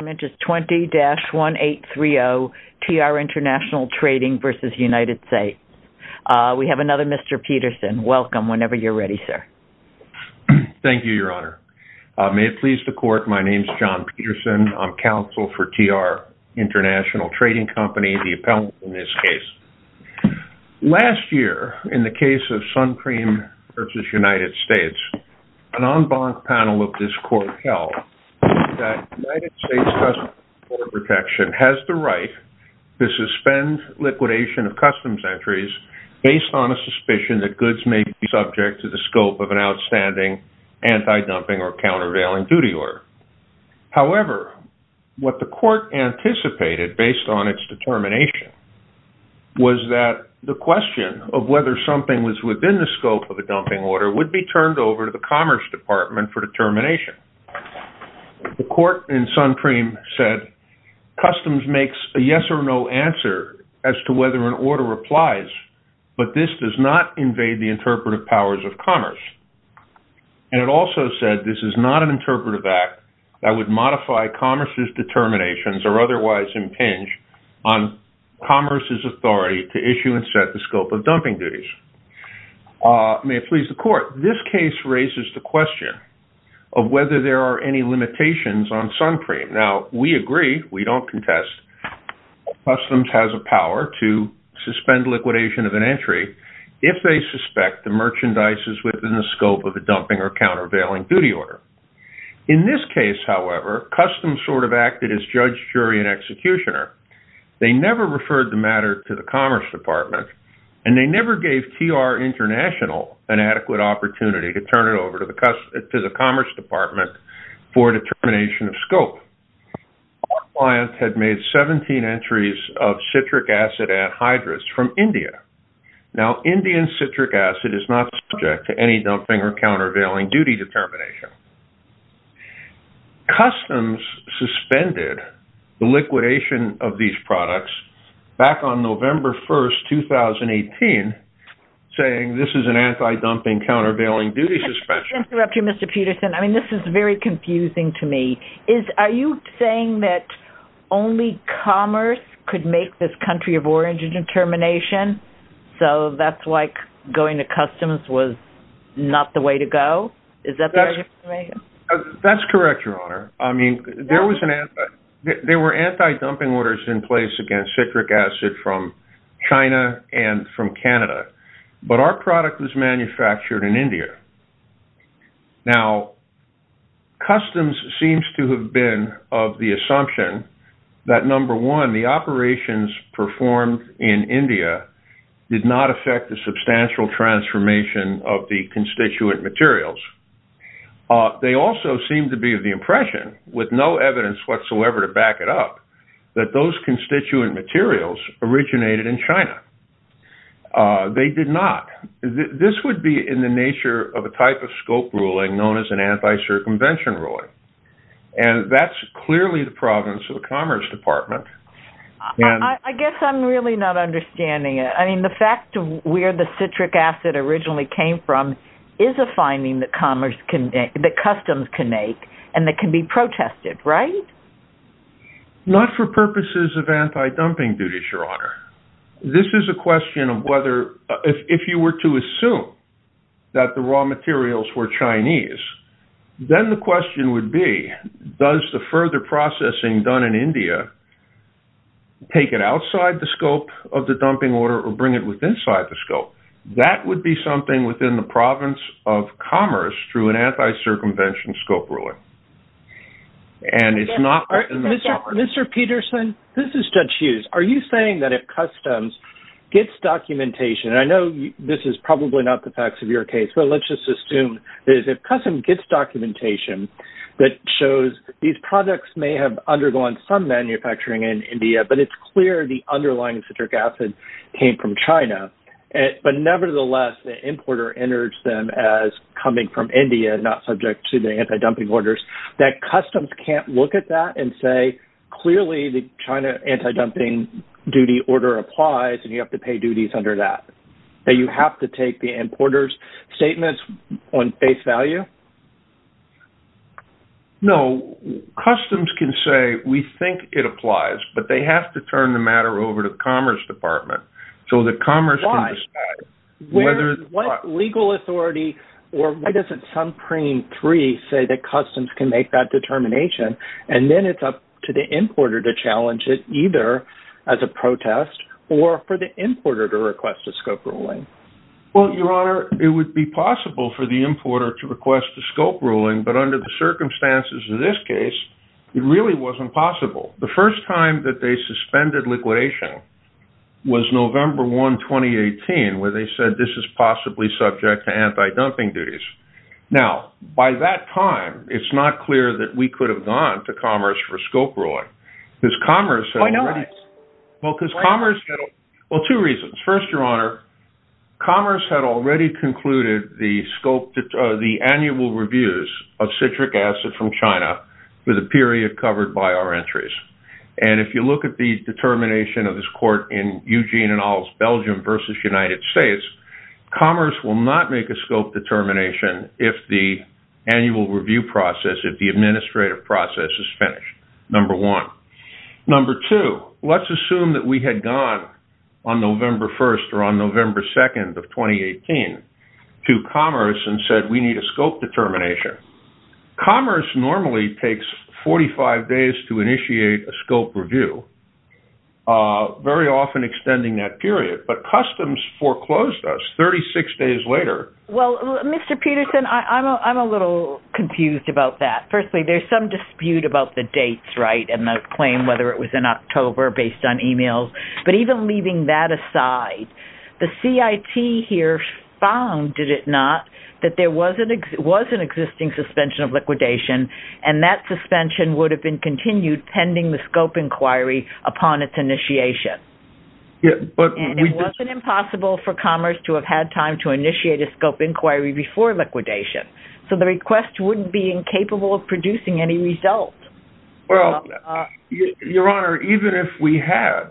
The argument is 20-1830 TR International Trading v. United States. We have another Mr. Peterson. Welcome. Whenever you're ready, sir. Thank you, Your Honor. May it please the court, my name is John Peterson. I'm counsel for TR International Trading Company, the appellant in this case. Last year, in the case of Suncream v. United States, an en banc panel of this court held that United States Customs and Border Protection has the right to suspend liquidation of customs entries based on a suspicion that goods may be subject to the scope of an outstanding anti-dumping or countervailing duty order. However, what the court anticipated based on its determination was that the question of whether something was within the scope of a dumping order would be turned over to the Commerce Department for determination. The court in Suncream said Customs makes a yes or no answer as to whether an order applies, but this does not invade the interpretive powers of Commerce, and it also said this is not an interpretive act that would modify Commerce's determinations or otherwise impinge on Commerce's authority to issue and set the scope of dumping duties. May it please the court. This case raises the question of whether there are any limitations on Suncream. Now, we agree, we don't contest, Customs has a power to suspend liquidation of an entry if they suspect the merchandise is within the scope of a dumping or countervailing duty order. In this case, however, Customs sort of acted as judge, jury, and executioner. They never referred the matter to the Commerce Department, and they never gave TR International an adequate opportunity to turn it over to the Commerce Department for determination of scope. Our client had made 17 entries of citric acid anhydrous from India. Now, Indian citric acid is not subject to any dumping or countervailing duty determination. Customs suspended the liquidation of these products back on November 1st, 2018, saying this is an anti-dumping, countervailing duty suspension. If I can interrupt you, Mr. Peterson, I mean, this is very confusing to me. Are you saying that only Commerce could make this country of origin determination? So that's like going to Customs was not the way to go? Is that the right explanation? That's correct, Your Honor. I mean, there were anti-dumping orders in place against citric acid from China and from India. No product was manufactured in India. Now, Customs seems to have been of the assumption that, number one, the operations performed in India did not affect the substantial transformation of the constituent materials. They also seem to be of the impression, with no evidence whatsoever to back it up, that those constituent materials originated in China. They did not. This would be in the nature of a type of scope ruling known as an anti-circumvention ruling. And that's clearly the province of the Commerce Department. I guess I'm really not understanding it. I mean, the fact of where the citric acid originally came from is a finding that Commerce can, that Customs can make, and that can be protested, right? Not for purposes of anti-dumping duties, Your Honor. This is a question of whether, if you were to assume that the raw materials were Chinese, then the question would be, does the further processing done in India take it outside the scope of the dumping order or bring it inside the scope? That would be something within the province of Commerce through an anti-circumvention scope ruling. And it's not within the Commerce. Mr. Peterson, this is Judge Hughes. Are you saying that if Customs gets documentation, and I know this is probably not the facts of your case, but let's just assume that if Customs gets documentation that shows these products may have undergone some manufacturing in India, but it's clear the underlying citric acid came from China, but nevertheless, the importer enters them as coming from India, not subject to the anti-dumping orders, that Customs can't look at that and say, clearly the China anti-dumping duty order applies, and you have to pay duties under that, that you have to take the importer's statements on face value? No, Customs can say, we think it applies, but they have to turn the matter over to the Commerce Department so that Commerce can decide whether... Why? What legal authority, or why doesn't Supreme 3 say that Customs can make that determination, and then it's up to the importer to challenge it, either as a protest, or for the importer to request a scope ruling? Well, Your Honor, it would be possible for the importer to request a scope ruling, but under the circumstances of this case, it really wasn't possible. The first time that they suspended liquidation was November 1, 2018, where they said this is possibly subject to anti-dumping duties. Now, by that time, it's not clear that we could have gone to Commerce for a scope ruling, because Commerce had already... Why not? Well, because Commerce had... Why not? Well, two reasons. First, Your Honor, Commerce had already concluded the annual reviews of citric acid from China with a period covered by our entries, and if you look at the determination of this court in Eugene et al.'s Belgium versus United States, Commerce will not make a scope determination if the annual review process, if the administrative process, is finished, number one. Number two, let's assume that we had gone on November 1st or on November 2nd of 2018 to Commerce and said, we need a scope determination. Commerce normally takes 45 days to initiate a scope review, very often extending that period, but Customs foreclosed us 36 days later. Well, Mr. Peterson, I'm a little confused about that. Firstly, there's some dispute about the dates, right, and the claim whether it was in October based on emails, but even leaving that aside, the CIT here found, did it not, that there was an existing suspension of liquidation, and that suspension would have been continued pending the scope inquiry upon its initiation, and it wasn't impossible for Commerce to have had time to initiate a scope inquiry before liquidation, so the request wouldn't be incapable of producing any results. Well, Your Honor, even if we had,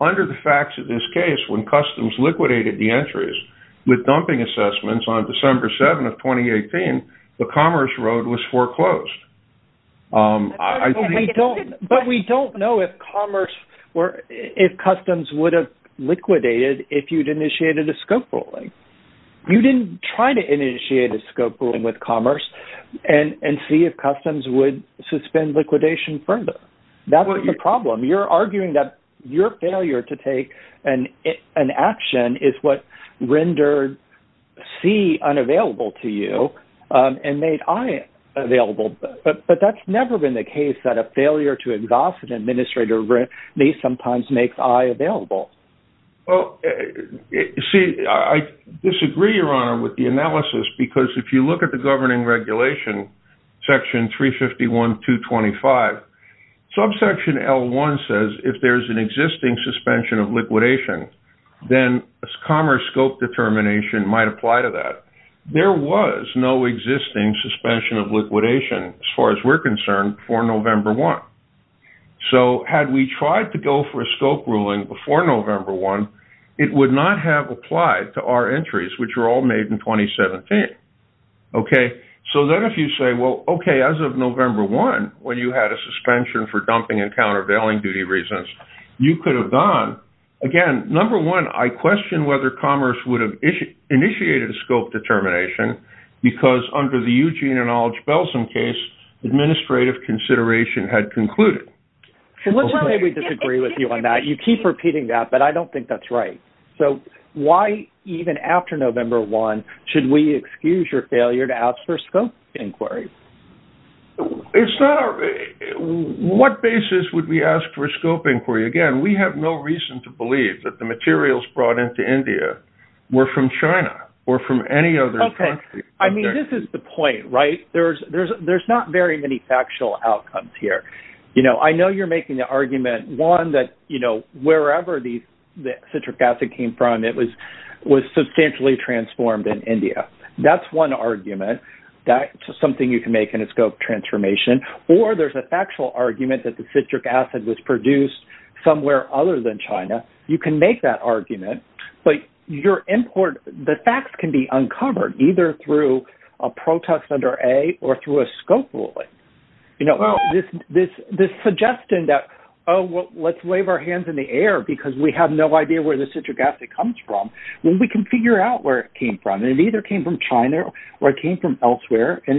under the facts of this case, when Customs liquidated the entries with dumping assessments on December 7th of 2018, the Commerce road was foreclosed. But we don't know if Commerce or if Customs would have liquidated if you'd initiated a scope ruling. You didn't try to initiate a scope ruling with Commerce and see if Customs would suspend liquidation further. That's the problem. You're arguing that your failure to take an action is what rendered C unavailable to you and made I available, but that's never been the case, that a failure to exhaust an administrator may sometimes make I available. Well, see, I disagree, Your Honor, with the analysis, because if you look at the governing regulation, section 351.225, subsection L1 says if there's an existing suspension of liquidation, then Commerce scope determination might apply to that. There was no existing suspension of liquidation, as far as we're concerned, for November 1. So had we tried to go for a scope ruling before November 1, it would not have applied to our Okay, so then if you say, well, okay, as of November 1, when you had a suspension for dumping and countervailing duty reasons, you could have gone, again, number one, I question whether Commerce would have initiated a scope determination, because under the Eugene and Aldridge-Belson case, administrative consideration had concluded. So let's say we disagree with you on that. You keep repeating that, but I don't think that's right. So why, even after November 1, should we excuse your failure to ask for a scope inquiry? It's not our, what basis would we ask for a scope inquiry? Again, we have no reason to believe that the materials brought into India were from China or from any other country. I mean, this is the point, right? There's not very many factual outcomes here. You know, I know you're making the argument, one, that, you know, wherever the citric acid came from, it was substantially transformed in India. That's one argument. That's something you can make in a scope transformation. Or there's a factual argument that the citric acid was produced somewhere other than China. You can make that argument, but the facts can be uncovered either through a protest under A or through a scope ruling. You know, this suggestion that, oh, well, let's wave our hands in the air because we have no idea where the citric acid comes from, well, we can figure out where it came from. And it either came from China or it came from elsewhere and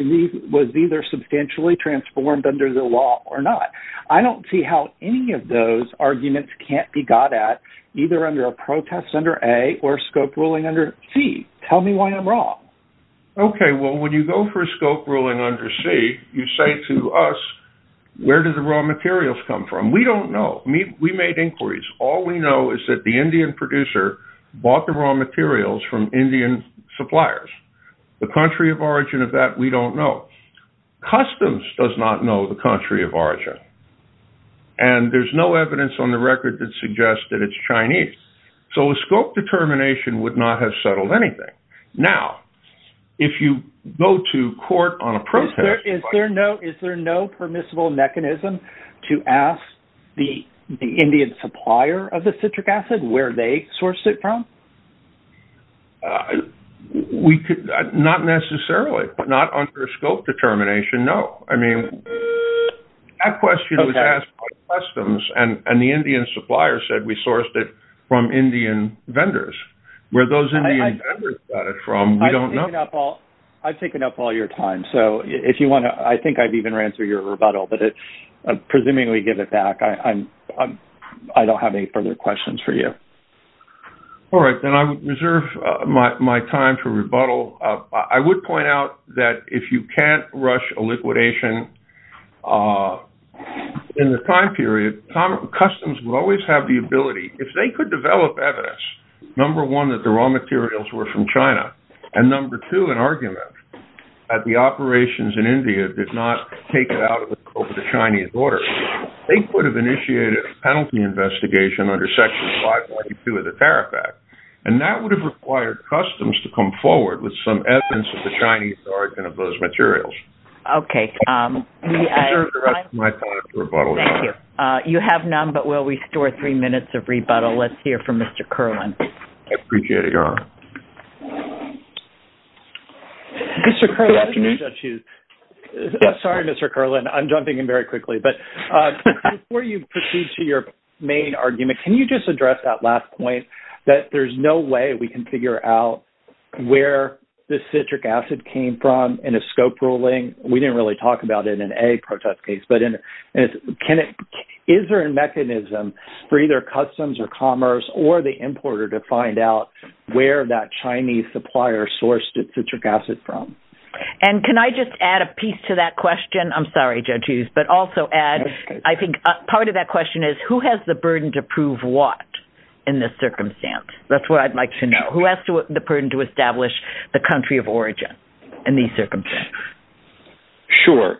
was either substantially transformed under the law or not. I don't see how any of those arguments can't be got at either under a protest under A or scope ruling under C. Tell me why I'm wrong. OK, well, when you go for a scope ruling under C, you say to us, where did the raw materials come from? We don't know. We made inquiries. All we know is that the Indian producer bought the raw materials from Indian suppliers. The country of origin of that, we don't know. Customs does not know the country of origin. And there's no evidence on the record that suggests that it's Chinese. So a scope determination would not have settled anything. Now, if you go to court on a protest, is there no is there no permissible mechanism to ask the Indian supplier of the citric acid where they sourced it from? We could not necessarily, but not under a scope determination, no. I mean, that question was asked by customs and the Indian supplier said we sourced it from Indian vendors. Where those Indian vendors got it from, we don't know. I've taken up all your time. So if you want to, I think I've even ran through your rebuttal, but it's presuming we give it back. I don't have any further questions for you. All right, then I reserve my time for rebuttal. I would point out that if you can't rush a liquidation in the time period, customs will always have the ability. If they could develop evidence, number one, that the raw materials were from China, and number two, an argument that the operations in India did not take it out of the scope of the Chinese order, they could have initiated a penalty investigation under Section 522 of the Tariff Act. And that would have required customs to come forward with some evidence of the Chinese origin of those materials. Okay. I reserve the rest of my time for rebuttal. Thank you. You have none, but we'll restore three minutes of rebuttal. Let's hear from Mr. Kerlin. I appreciate it, Your Honor. Mr. Kerlin, good afternoon, Judges. Sorry, Mr. Kerlin. I'm jumping in very quickly, but before you proceed to your main argument, can you just address that last point that there's no way we can figure out where the citric acid came from in a scope ruling? We didn't really talk about it in a protest case, but is there a mechanism for either customs or commerce or the importer to find out where that Chinese supplier sourced its citric acid from? And can I just add a piece to that question? I'm sorry, Judges, but also add, I think part of that question is, who has the burden to prove what in this circumstance? That's what I'd like to know. Who has the burden to establish the country of origin in these circumstances? Sure.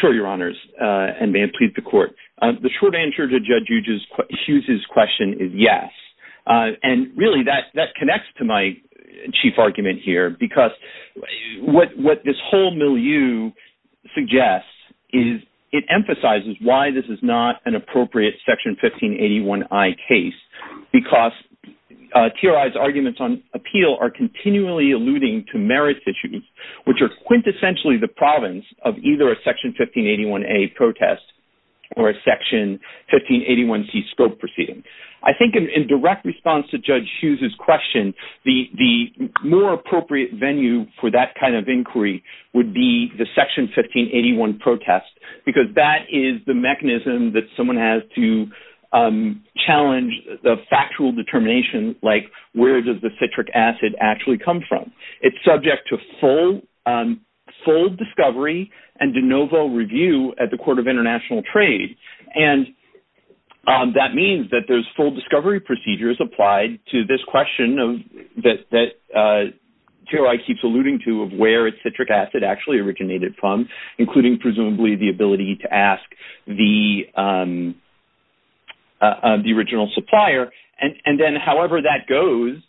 Sure, Your Honors, and may it please the Court. The short answer to Judge Hughes's question is yes. And really, that connects to my chief argument here, because what this whole milieu suggests it emphasizes why this is not an appropriate Section 1581I case, because TRI's arguments on appeal are continually alluding to merit issues, which are quintessentially the province of either a Section 1581A protest or a Section 1581C scope proceeding. I think in direct response to Judge Hughes's question, the more appropriate venue for that kind of inquiry would be the Section 1581 protest, because that is the mechanism that someone has to challenge the factual determination, like, where does the citric acid actually come from? It's subject to full discovery and de novo review at the Court of International Trade. And that means that there's full discovery procedures applied to this question that TRI keeps alluding to of where its citric acid actually originated from, including presumably the ability to ask the original supplier. And then however that goes,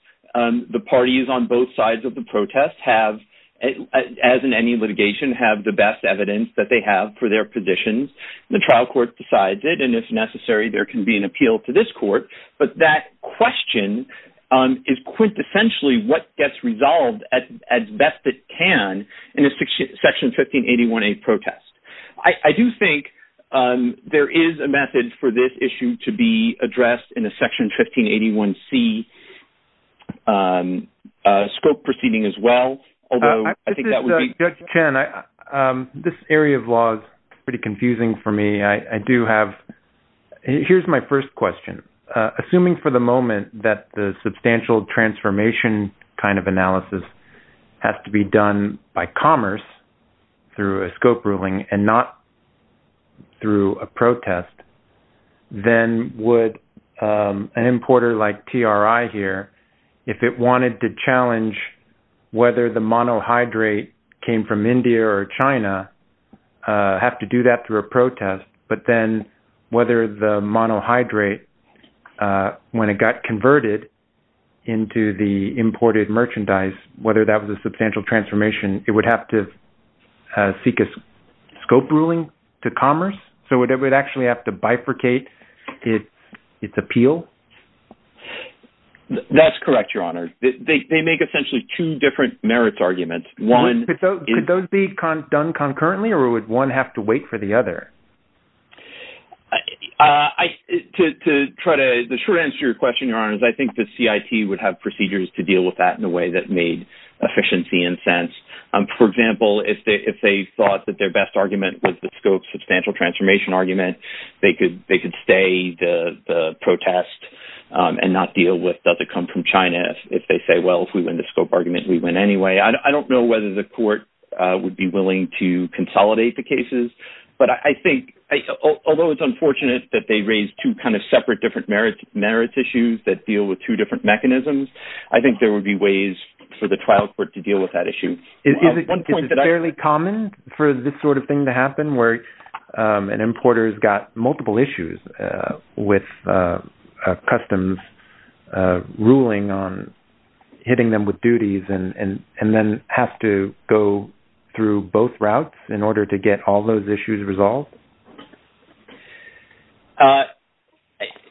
the parties on both sides of the protest have, as in any litigation, have the best evidence that they have for their positions. The trial court decides it, and if necessary, there can be an appeal to this court. But that question is quintessentially what gets resolved as best it can in a Section 1581A protest. I do think there is a method for this issue to be addressed in a Section 1581C scope proceeding as well, although I think that would be... Judge Chen, this area of law is pretty confusing for me. I do have... Here's my first question. Assuming for the moment that the substantial transformation kind of analysis has to be done by commerce through a scope ruling and not through a protest, then would an importer like TRI here, if it wanted to challenge whether the monohydrate came from India or China, have to do that through a protest, but then whether the monohydrate, when it got converted into the imported merchandise, whether that was a substantial transformation, it would have to seek a scope ruling to commerce? So would it actually have to bifurcate its appeal? That's correct, Your Honor. They make essentially two different merits arguments. Could those be done concurrently, or would one have to wait for the other? The short answer to your question, Your Honor, is I think the CIT would have procedures to deal with that in a way that made efficiency and sense. For example, if they thought that their best argument was the scope substantial transformation argument, they could stay the protest and not deal with, does it come from China? If they say, well, if we win the scope argument, we win anyway. I don't know whether the court would be willing to consolidate the cases. But I think, although it's unfortunate that they raise two separate different merits issues that deal with two different mechanisms, I think there would be ways for the trial court to deal with that issue. Is it fairly common for this sort of thing to happen, where an importer has got multiple issues with a customs ruling on hitting them with duties and then have to go through both routes in order to get all those issues resolved?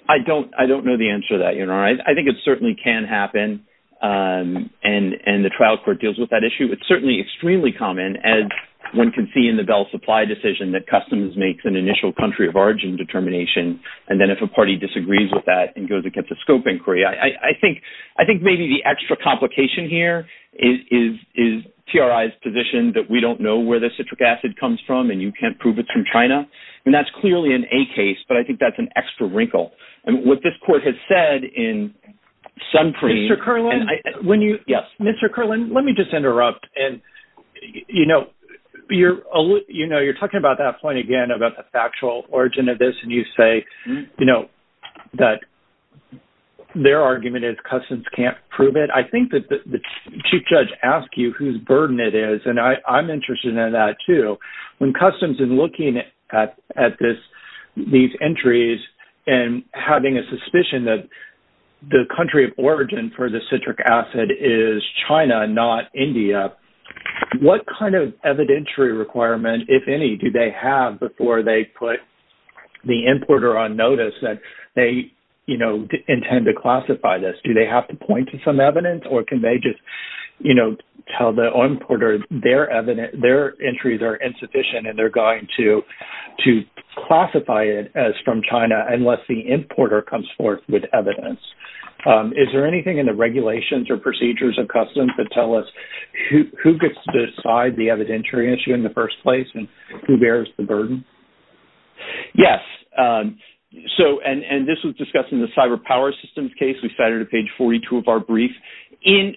I don't know the answer to that, Your Honor. I think it certainly can happen, and the trial court deals with that issue. It's certainly extremely common, as one can see in the Bell Supply decision, that customs makes an initial country of origin determination, and then if a party disagrees with that and goes and gets a scope inquiry. I think maybe the extra complication here is TRI's position that we don't know where the citric acid comes from, and you can't prove it from China. That's clearly an A case, but I think that's an extra wrinkle. What this court has said in Sunpreet- Mr. Kerlin? When you- Yes. Mr. Kerlin, let me just interrupt. You're talking about that point again, about the factual origin of this, and you say that their argument is customs can't prove it. I think that the Chief Judge asked you whose burden it is, and I'm interested in that too. When customs is looking at these entries and having a suspicion that the country of origin for the citric acid is China, not India, what kind of evidentiary requirement, if any, do they have before they put the importer on notice that they intend to classify this? Do they have to point to some evidence, or can they just tell the importer their entries are insufficient and they're going to classify it as from China unless the importer comes forth with evidence? Is there anything in the regulations or procedures of customs that tell us who gets to decide the evidentiary issue in the first place and who bears the burden? Yes. This was discussed in the cyber power systems case. We cited a page 42 of our brief. In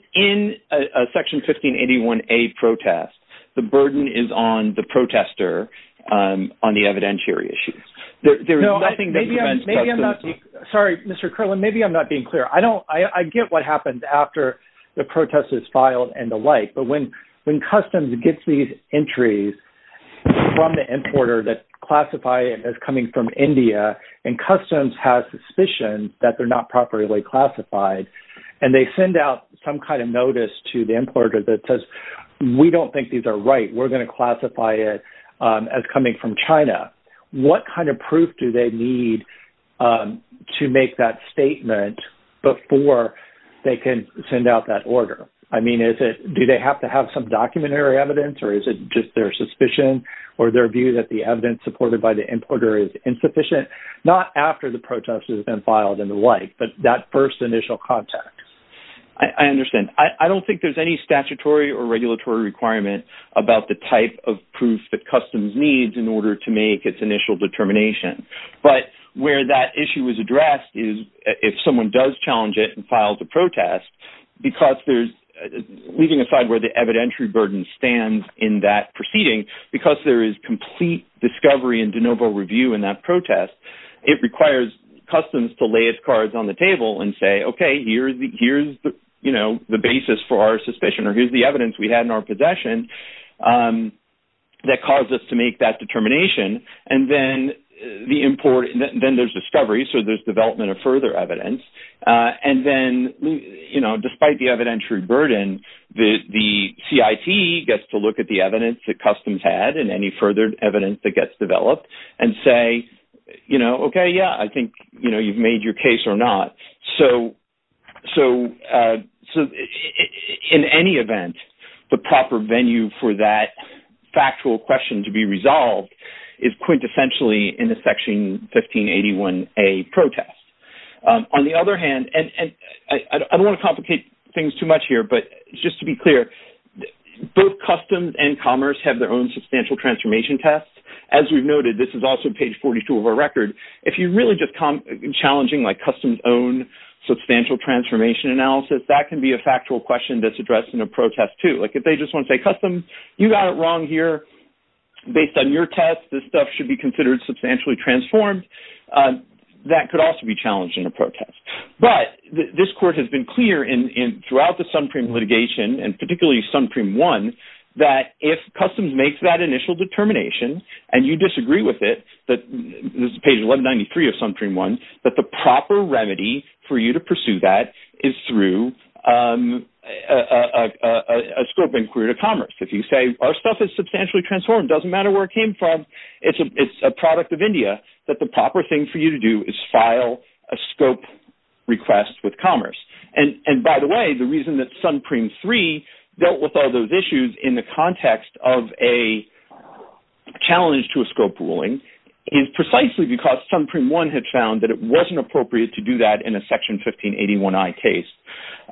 a Section 1581A protest, the burden is on the protester on the evidentiary issue. There is nothing that prevents customs- Sorry, Mr. Kerlin. Maybe I'm not being clear. I get what happens after the protest is filed and the like, but when customs gets these entries from the importer that classify it as coming from India, and customs has suspicion that they're not properly classified, and they send out some kind of notice to the importer that says, we don't think these are right. We're going to classify it as coming from China. What kind of proof do they need to make that statement before they can send out that order? I mean, do they have to have some documentary evidence or is it just their suspicion or their view that the evidence supported by the importer is insufficient? Not after the protest has been filed and the like, but that first initial contact. I understand. I don't think there's any statutory or regulatory requirement about the type of proof that customs needs in order to make its initial determination, but where that issue is addressed is if someone does challenge it and files a protest, because there's, leaving aside where the evidentiary burden stands in that proceeding, because there is complete discovery and de novo review in that protest, it requires customs to lay its cards on the table and say, okay, here's the basis for our suspicion or here's the evidence we had in our possession that caused us to make that determination. And then there's discovery, so there's development of further evidence. And then despite the evidentiary burden, the CIT gets to look at the evidence that customs had and any further evidence that gets developed and say, okay, yeah, I think you've made your case or not. So in any event, the proper venue for that factual question to be resolved is quintessentially in the Section 1581A protest. On the other hand, and I don't want to complicate things too much here, but just to be clear, both customs and commerce have their own substantial transformation test. As we've noted, this is also page 42 of our record. If you're really just challenging customs' own substantial transformation analysis, that can be a factual question that's addressed in a protest, too. If they just want to say, customs, you got it wrong here, based on your test, this stuff should be considered substantially transformed, that could also be challenged in a protest. But this court has been clear throughout the Sunpreme litigation, and particularly Sunpreme 1, that if customs makes that initial determination and you disagree with it, this is page 11 93 of Sunpreme 1, that the proper remedy for you to pursue that is through a scope inquiry to commerce. If you say, our stuff is substantially transformed, it doesn't matter where it came from, it's a product of India, that the proper thing for you to do is file a scope request with commerce. And by the way, the reason that Sunpreme 3 dealt with all those issues in the context of a challenge to a scope ruling is precisely because Sunpreme 1 had found that it wasn't appropriate to do that in a Section 1581i case,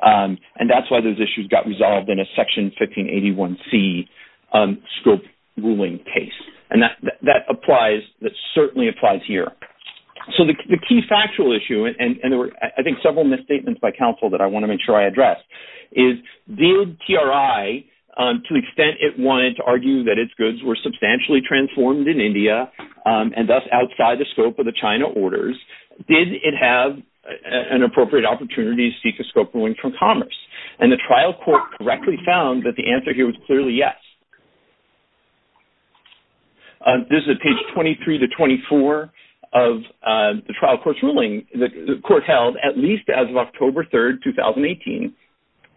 and that's why those issues got resolved in a Section 1581c scope ruling case. And that applies, that certainly applies here. So the key factual issue, and there were, I think, several misstatements by counsel that I want to make sure I address, is did TRI, to the extent it wanted to argue that its goods were substantially transformed in India, and thus outside the scope of the China orders, did it have an appropriate opportunity to seek a scope ruling from commerce? And the trial court correctly found that the answer here was clearly yes. This is at page 23 to 24 of the trial court's ruling, the court held, at least as of October 3, 2018,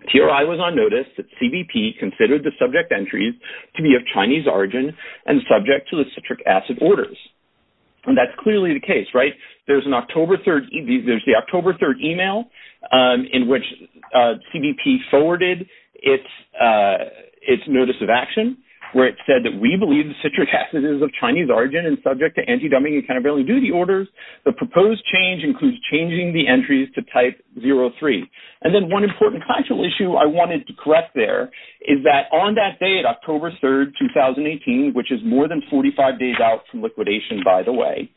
TRI was on notice that CBP considered the subject entries to be of Chinese origin and subject to the citric acid orders. And that's clearly the case, right? There's an October 3, there's the October 3 email in which CBP forwarded its notice of action, where it said that we believe the citric acid is of Chinese origin and subject to anti-dumping and countervailing duty orders. The proposed change includes changing the entries to type 03. And then one important factual issue I wanted to correct there is that on that day, at October 3, 2018, which is more than 45 days out from liquidation, by the way,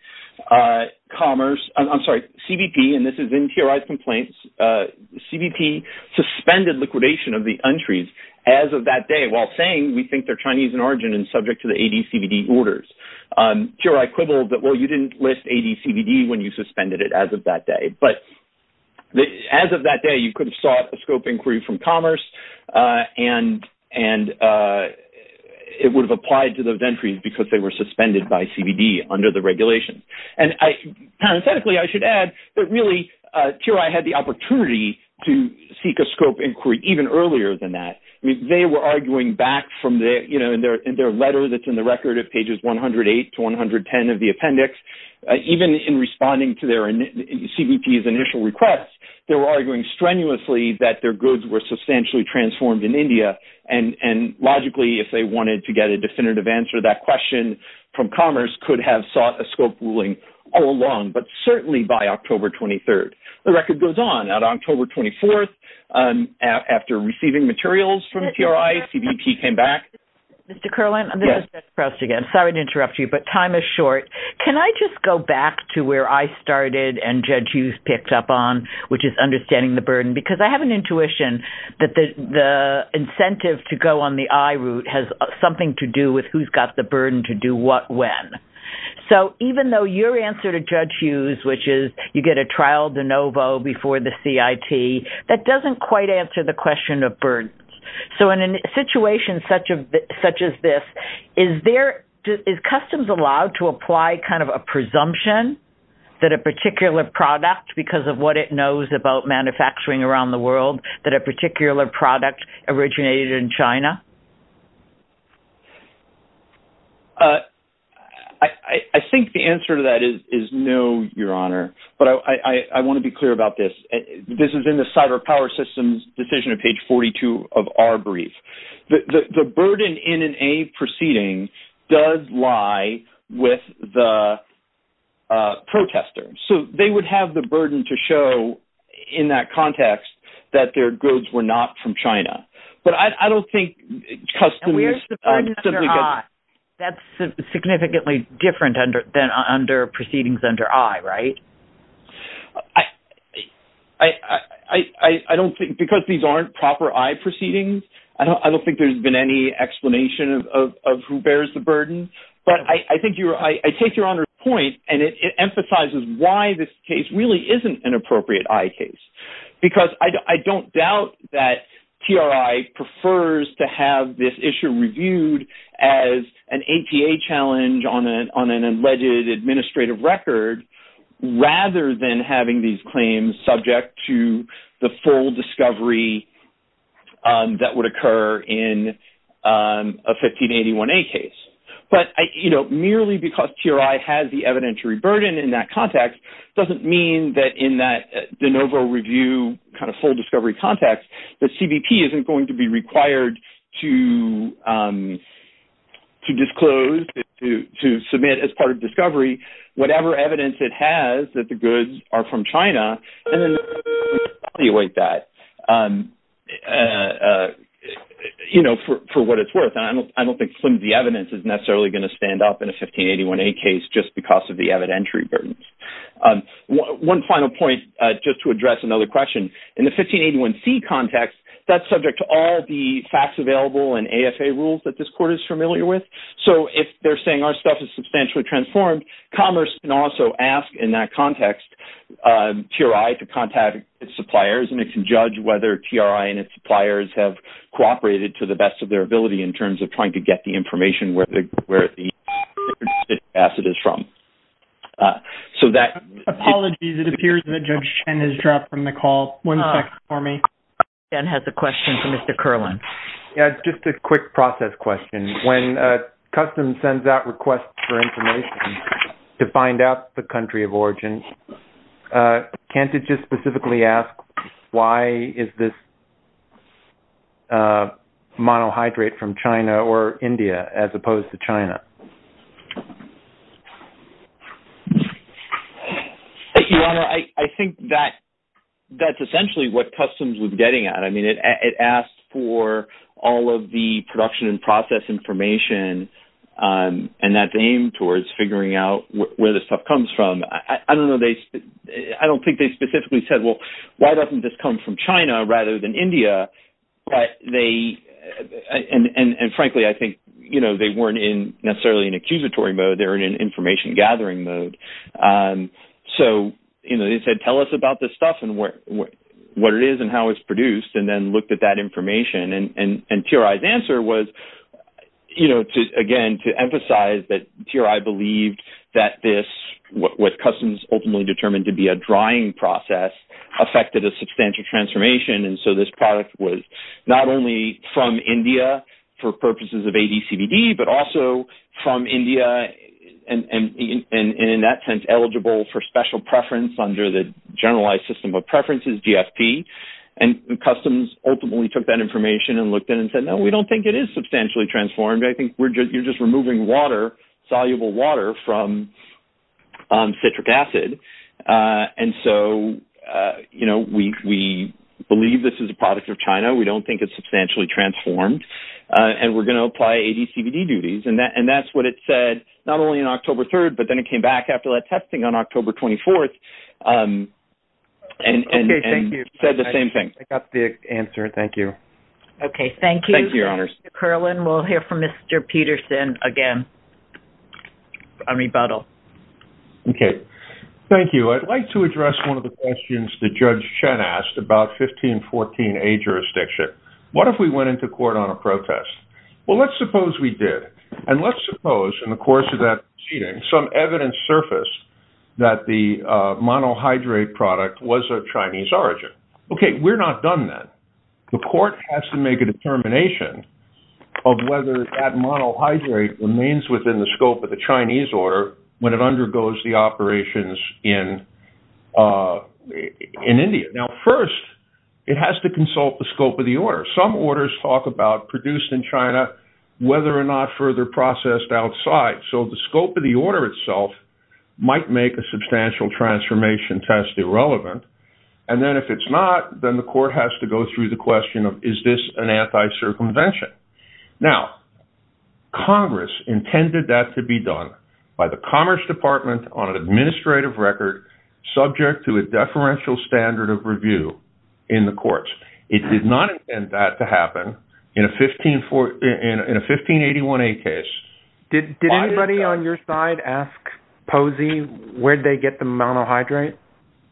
CBP, and this is in TRI's complaints, CBP suspended liquidation of the entries as of that day, while saying we think they're Chinese in origin and subject to the ADCBD orders. TRI quibbled that, well, you didn't list ADCBD when you suspended it as of that day. But as of that day, you could have sought a scope inquiry from Commerce, and it would have applied to those entries because they were suspended by CBD under the regulation. And parenthetically, I should add that really, TRI had the opportunity to seek a scope inquiry even earlier than that. They were arguing back in their letter that's in the record of pages 108 to 110 of the appendix, even in responding to CBP's initial request, they were arguing strenuously that their goods were substantially transformed in India. And logically, if they wanted to get a definitive answer to that question from Commerce, could have sought a scope ruling all along, but certainly by October 23. The record goes on. On October 24, after receiving materials from TRI, CBP came back. Mr. Curlin, I'm sorry to interrupt you, but time is short. Can I just go back to where I started and Judge Hughes picked up on, which is understanding the burden, because I have an intuition that the incentive to go on the I route has something to do with who's got the burden to do what when. So even though your answer to Judge Hughes, which is you get a trial de novo before the CIT, that doesn't quite answer the question of burden. So in a situation such as this, is customs allowed to apply kind of a presumption that a particular product, because of what it knows about manufacturing around the world, that a particular product originated in China? I think the answer to that is no, Your Honor. But I want to be clear about this. This is in the Cyber Power Systems decision of page 42 of our brief. The burden in an A proceeding does lie with the protester. So they would have the burden to show in that context that their goods were not from China. But I don't think customs- And where's the burden under R? That's significantly different than under proceedings under I, right? I don't think, because these aren't proper I proceedings, I don't think there's been any explanation of who bears the burden. But I think you're right. I take Your Honor's point, and it emphasizes why this case really isn't an appropriate I case. Because I don't doubt that TRI prefers to have this issue reviewed as an ATA challenge on an alleged administrative record, rather than having these claims subject to the full discovery that would occur in a 1581A case. But merely because TRI has the evidentiary burden in that context doesn't mean that in that de novo review kind of full discovery context, that CBP isn't going to be required to disclose, to submit as part of discovery, whatever evidence it has that the goods are from China, and then evaluate that for what it's worth. And I don't think flimsy evidence is necessarily going to stand up in a 1581A case just because of the evidentiary burdens. One final point, just to address another question. In the 1581C context, that's subject to all the facts available and AFA rules that this court is familiar with. So if they're saying our stuff is substantially transformed, Commerce can also ask in that context TRI to contact its suppliers, and it can judge whether TRI and its suppliers have cooperated to the best of their ability in terms of trying to get the information where the acid is from. So that- Apologies. It appears that Judge Chen has dropped from the call. One second for me. And has a question for Mr. Kerlin. Yeah, just a quick process question. When Customs sends out requests for information to find out the country of origin, can't it just specifically ask why is this monohydrate from China or India as opposed to China? Thank you, Ronald. I think that that's essentially what Customs was getting at. I mean, it asked for all of the production and process information, and that's aimed towards figuring out where this stuff comes from. I don't know. I don't think they specifically said, well, why doesn't this come from China rather than India? But they- and frankly, I think, you know, they weren't in necessarily an accusatory mode. They were in an information gathering mode. So you know, they said, tell us about this stuff and what it is and how it's produced, and then looked at that information. And TRI's answer was, you know, again, to emphasize that TRI believed that this- what Customs ultimately determined to be a drying process affected a substantial transformation. And so this product was not only from India for purposes of ADCBD, but also from India and, in that sense, eligible for special preference under the generalized system of preferences, GFP. And Customs ultimately took that information and looked at it and said, no, we don't think it is substantially transformed. I think we're just- you're just removing water, soluble water, from citric acid. And so, you know, we believe this is a product of China. We don't think it's substantially transformed. And we're going to apply ADCBD duties. And that's what it said, not only on October 3rd, but then it came back after that testing on October 24th. And- Okay, thank you. You said the same thing. I got the answer. Thank you. Okay, thank you. Thank you, Your Honors. Mr. Kerlin, we'll hear from Mr. Peterson again for a rebuttal. Okay. Thank you. I'd like to address one of the questions that Judge Chen asked about 1514A jurisdiction. What if we went into court on a protest? Well, let's suppose we did. And let's suppose, in the course of that proceeding, some evidence surfaced that the monohydrate product was of Chinese origin. Okay. We're not done then. The court has to make a determination of whether that monohydrate remains within the scope of the Chinese order when it undergoes the operations in India. Now, first, it has to consult the scope of the order. Some orders talk about produced in China, whether or not further processed outside. So the scope of the order itself might make a substantial transformation test irrelevant. And then if it's not, then the court has to go through the question of, is this an anti-circumvention? Now, Congress intended that to be done by the Commerce Department on an administrative record subject to a deferential standard of review in the courts. It did not intend that to happen in a 1581A case. Did anybody on your side ask Posey where they get the monohydrate?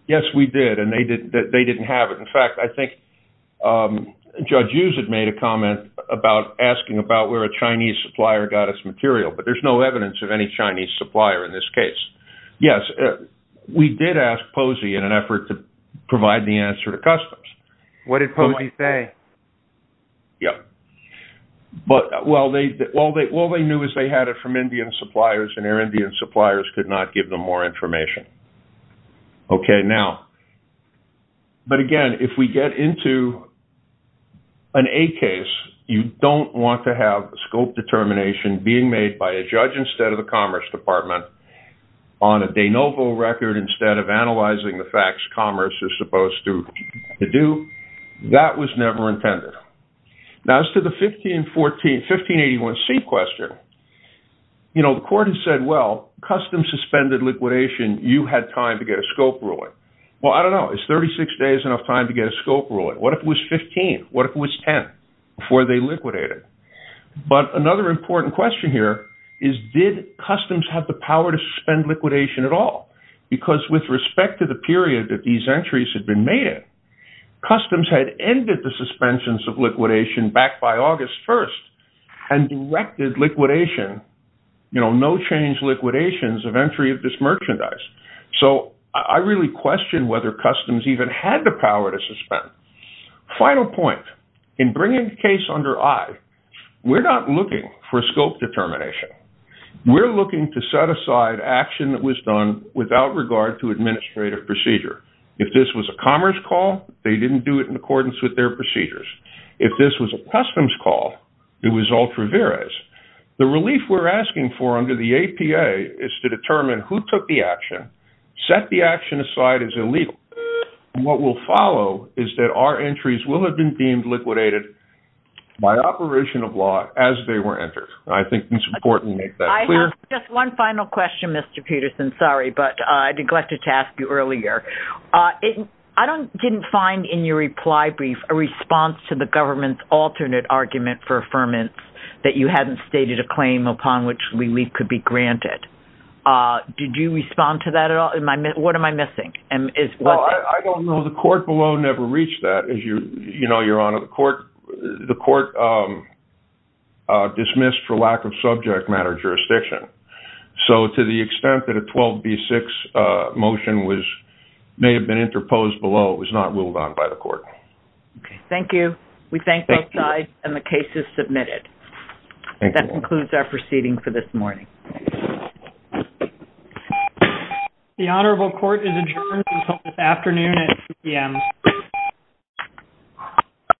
Yes, we did. And they didn't have it. In fact, I think Judge Hughes had made a comment about asking about where a Chinese supplier got its material. But there's no evidence of any Chinese supplier in this case. Yes, we did ask Posey in an effort to provide the answer to customs. What did Posey say? Yeah. But all they knew is they had it from Indian suppliers, and their Indian suppliers could not give them more information. Okay, now, but again, if we get into an A case, you don't want to have scope determination being made by a judge instead of the Commerce Department on a de novo record instead of analyzing the facts Commerce is supposed to do. That was never intended. Now, as to the 1581C question, the court has said, well, customs suspended liquidation. You had time to get a scope ruling. Well, I don't know. Is 36 days enough time to get a scope ruling? What if it was 15? What if it was 10 before they liquidated? But another important question here is, did customs have the power to suspend liquidation at all? Because with respect to the period that these entries had been made in, customs had ended the suspensions of liquidation back by August 1st and directed liquidation, no change liquidations of entry of this merchandise. So I really question whether customs even had the power to suspend. Final point, in bringing the case under eye, we're not looking for scope determination. We're looking to set aside action that was done without regard to administrative procedure. If this was a Commerce call, they didn't do it in accordance with their procedures. If this was a customs call, it was ultra veris. The relief we're asking for under the APA is to determine who took the action, set the action aside as illegal, and what will follow is that our entries will have been deemed liquidated by operation of law as they were entered. I think it's important to make that clear. Just one final question, Mr. Peterson. Sorry, but I neglected to ask you earlier. I didn't find in your reply brief a response to the government's alternate argument for affirmance that you hadn't stated a claim upon which relief could be granted. Did you respond to that at all? What am I missing? Well, I don't know. The court below never reached that. As you know, Your Honor, the court dismissed for lack of subject matter jurisdiction. So to the extent that a 12B6 motion may have been interposed below, it was not ruled on by the court. Okay. Thank you. We thank both sides, and the case is submitted. That concludes our proceeding for this morning. The Honorable Court is adjourned until this afternoon at 2 p.m.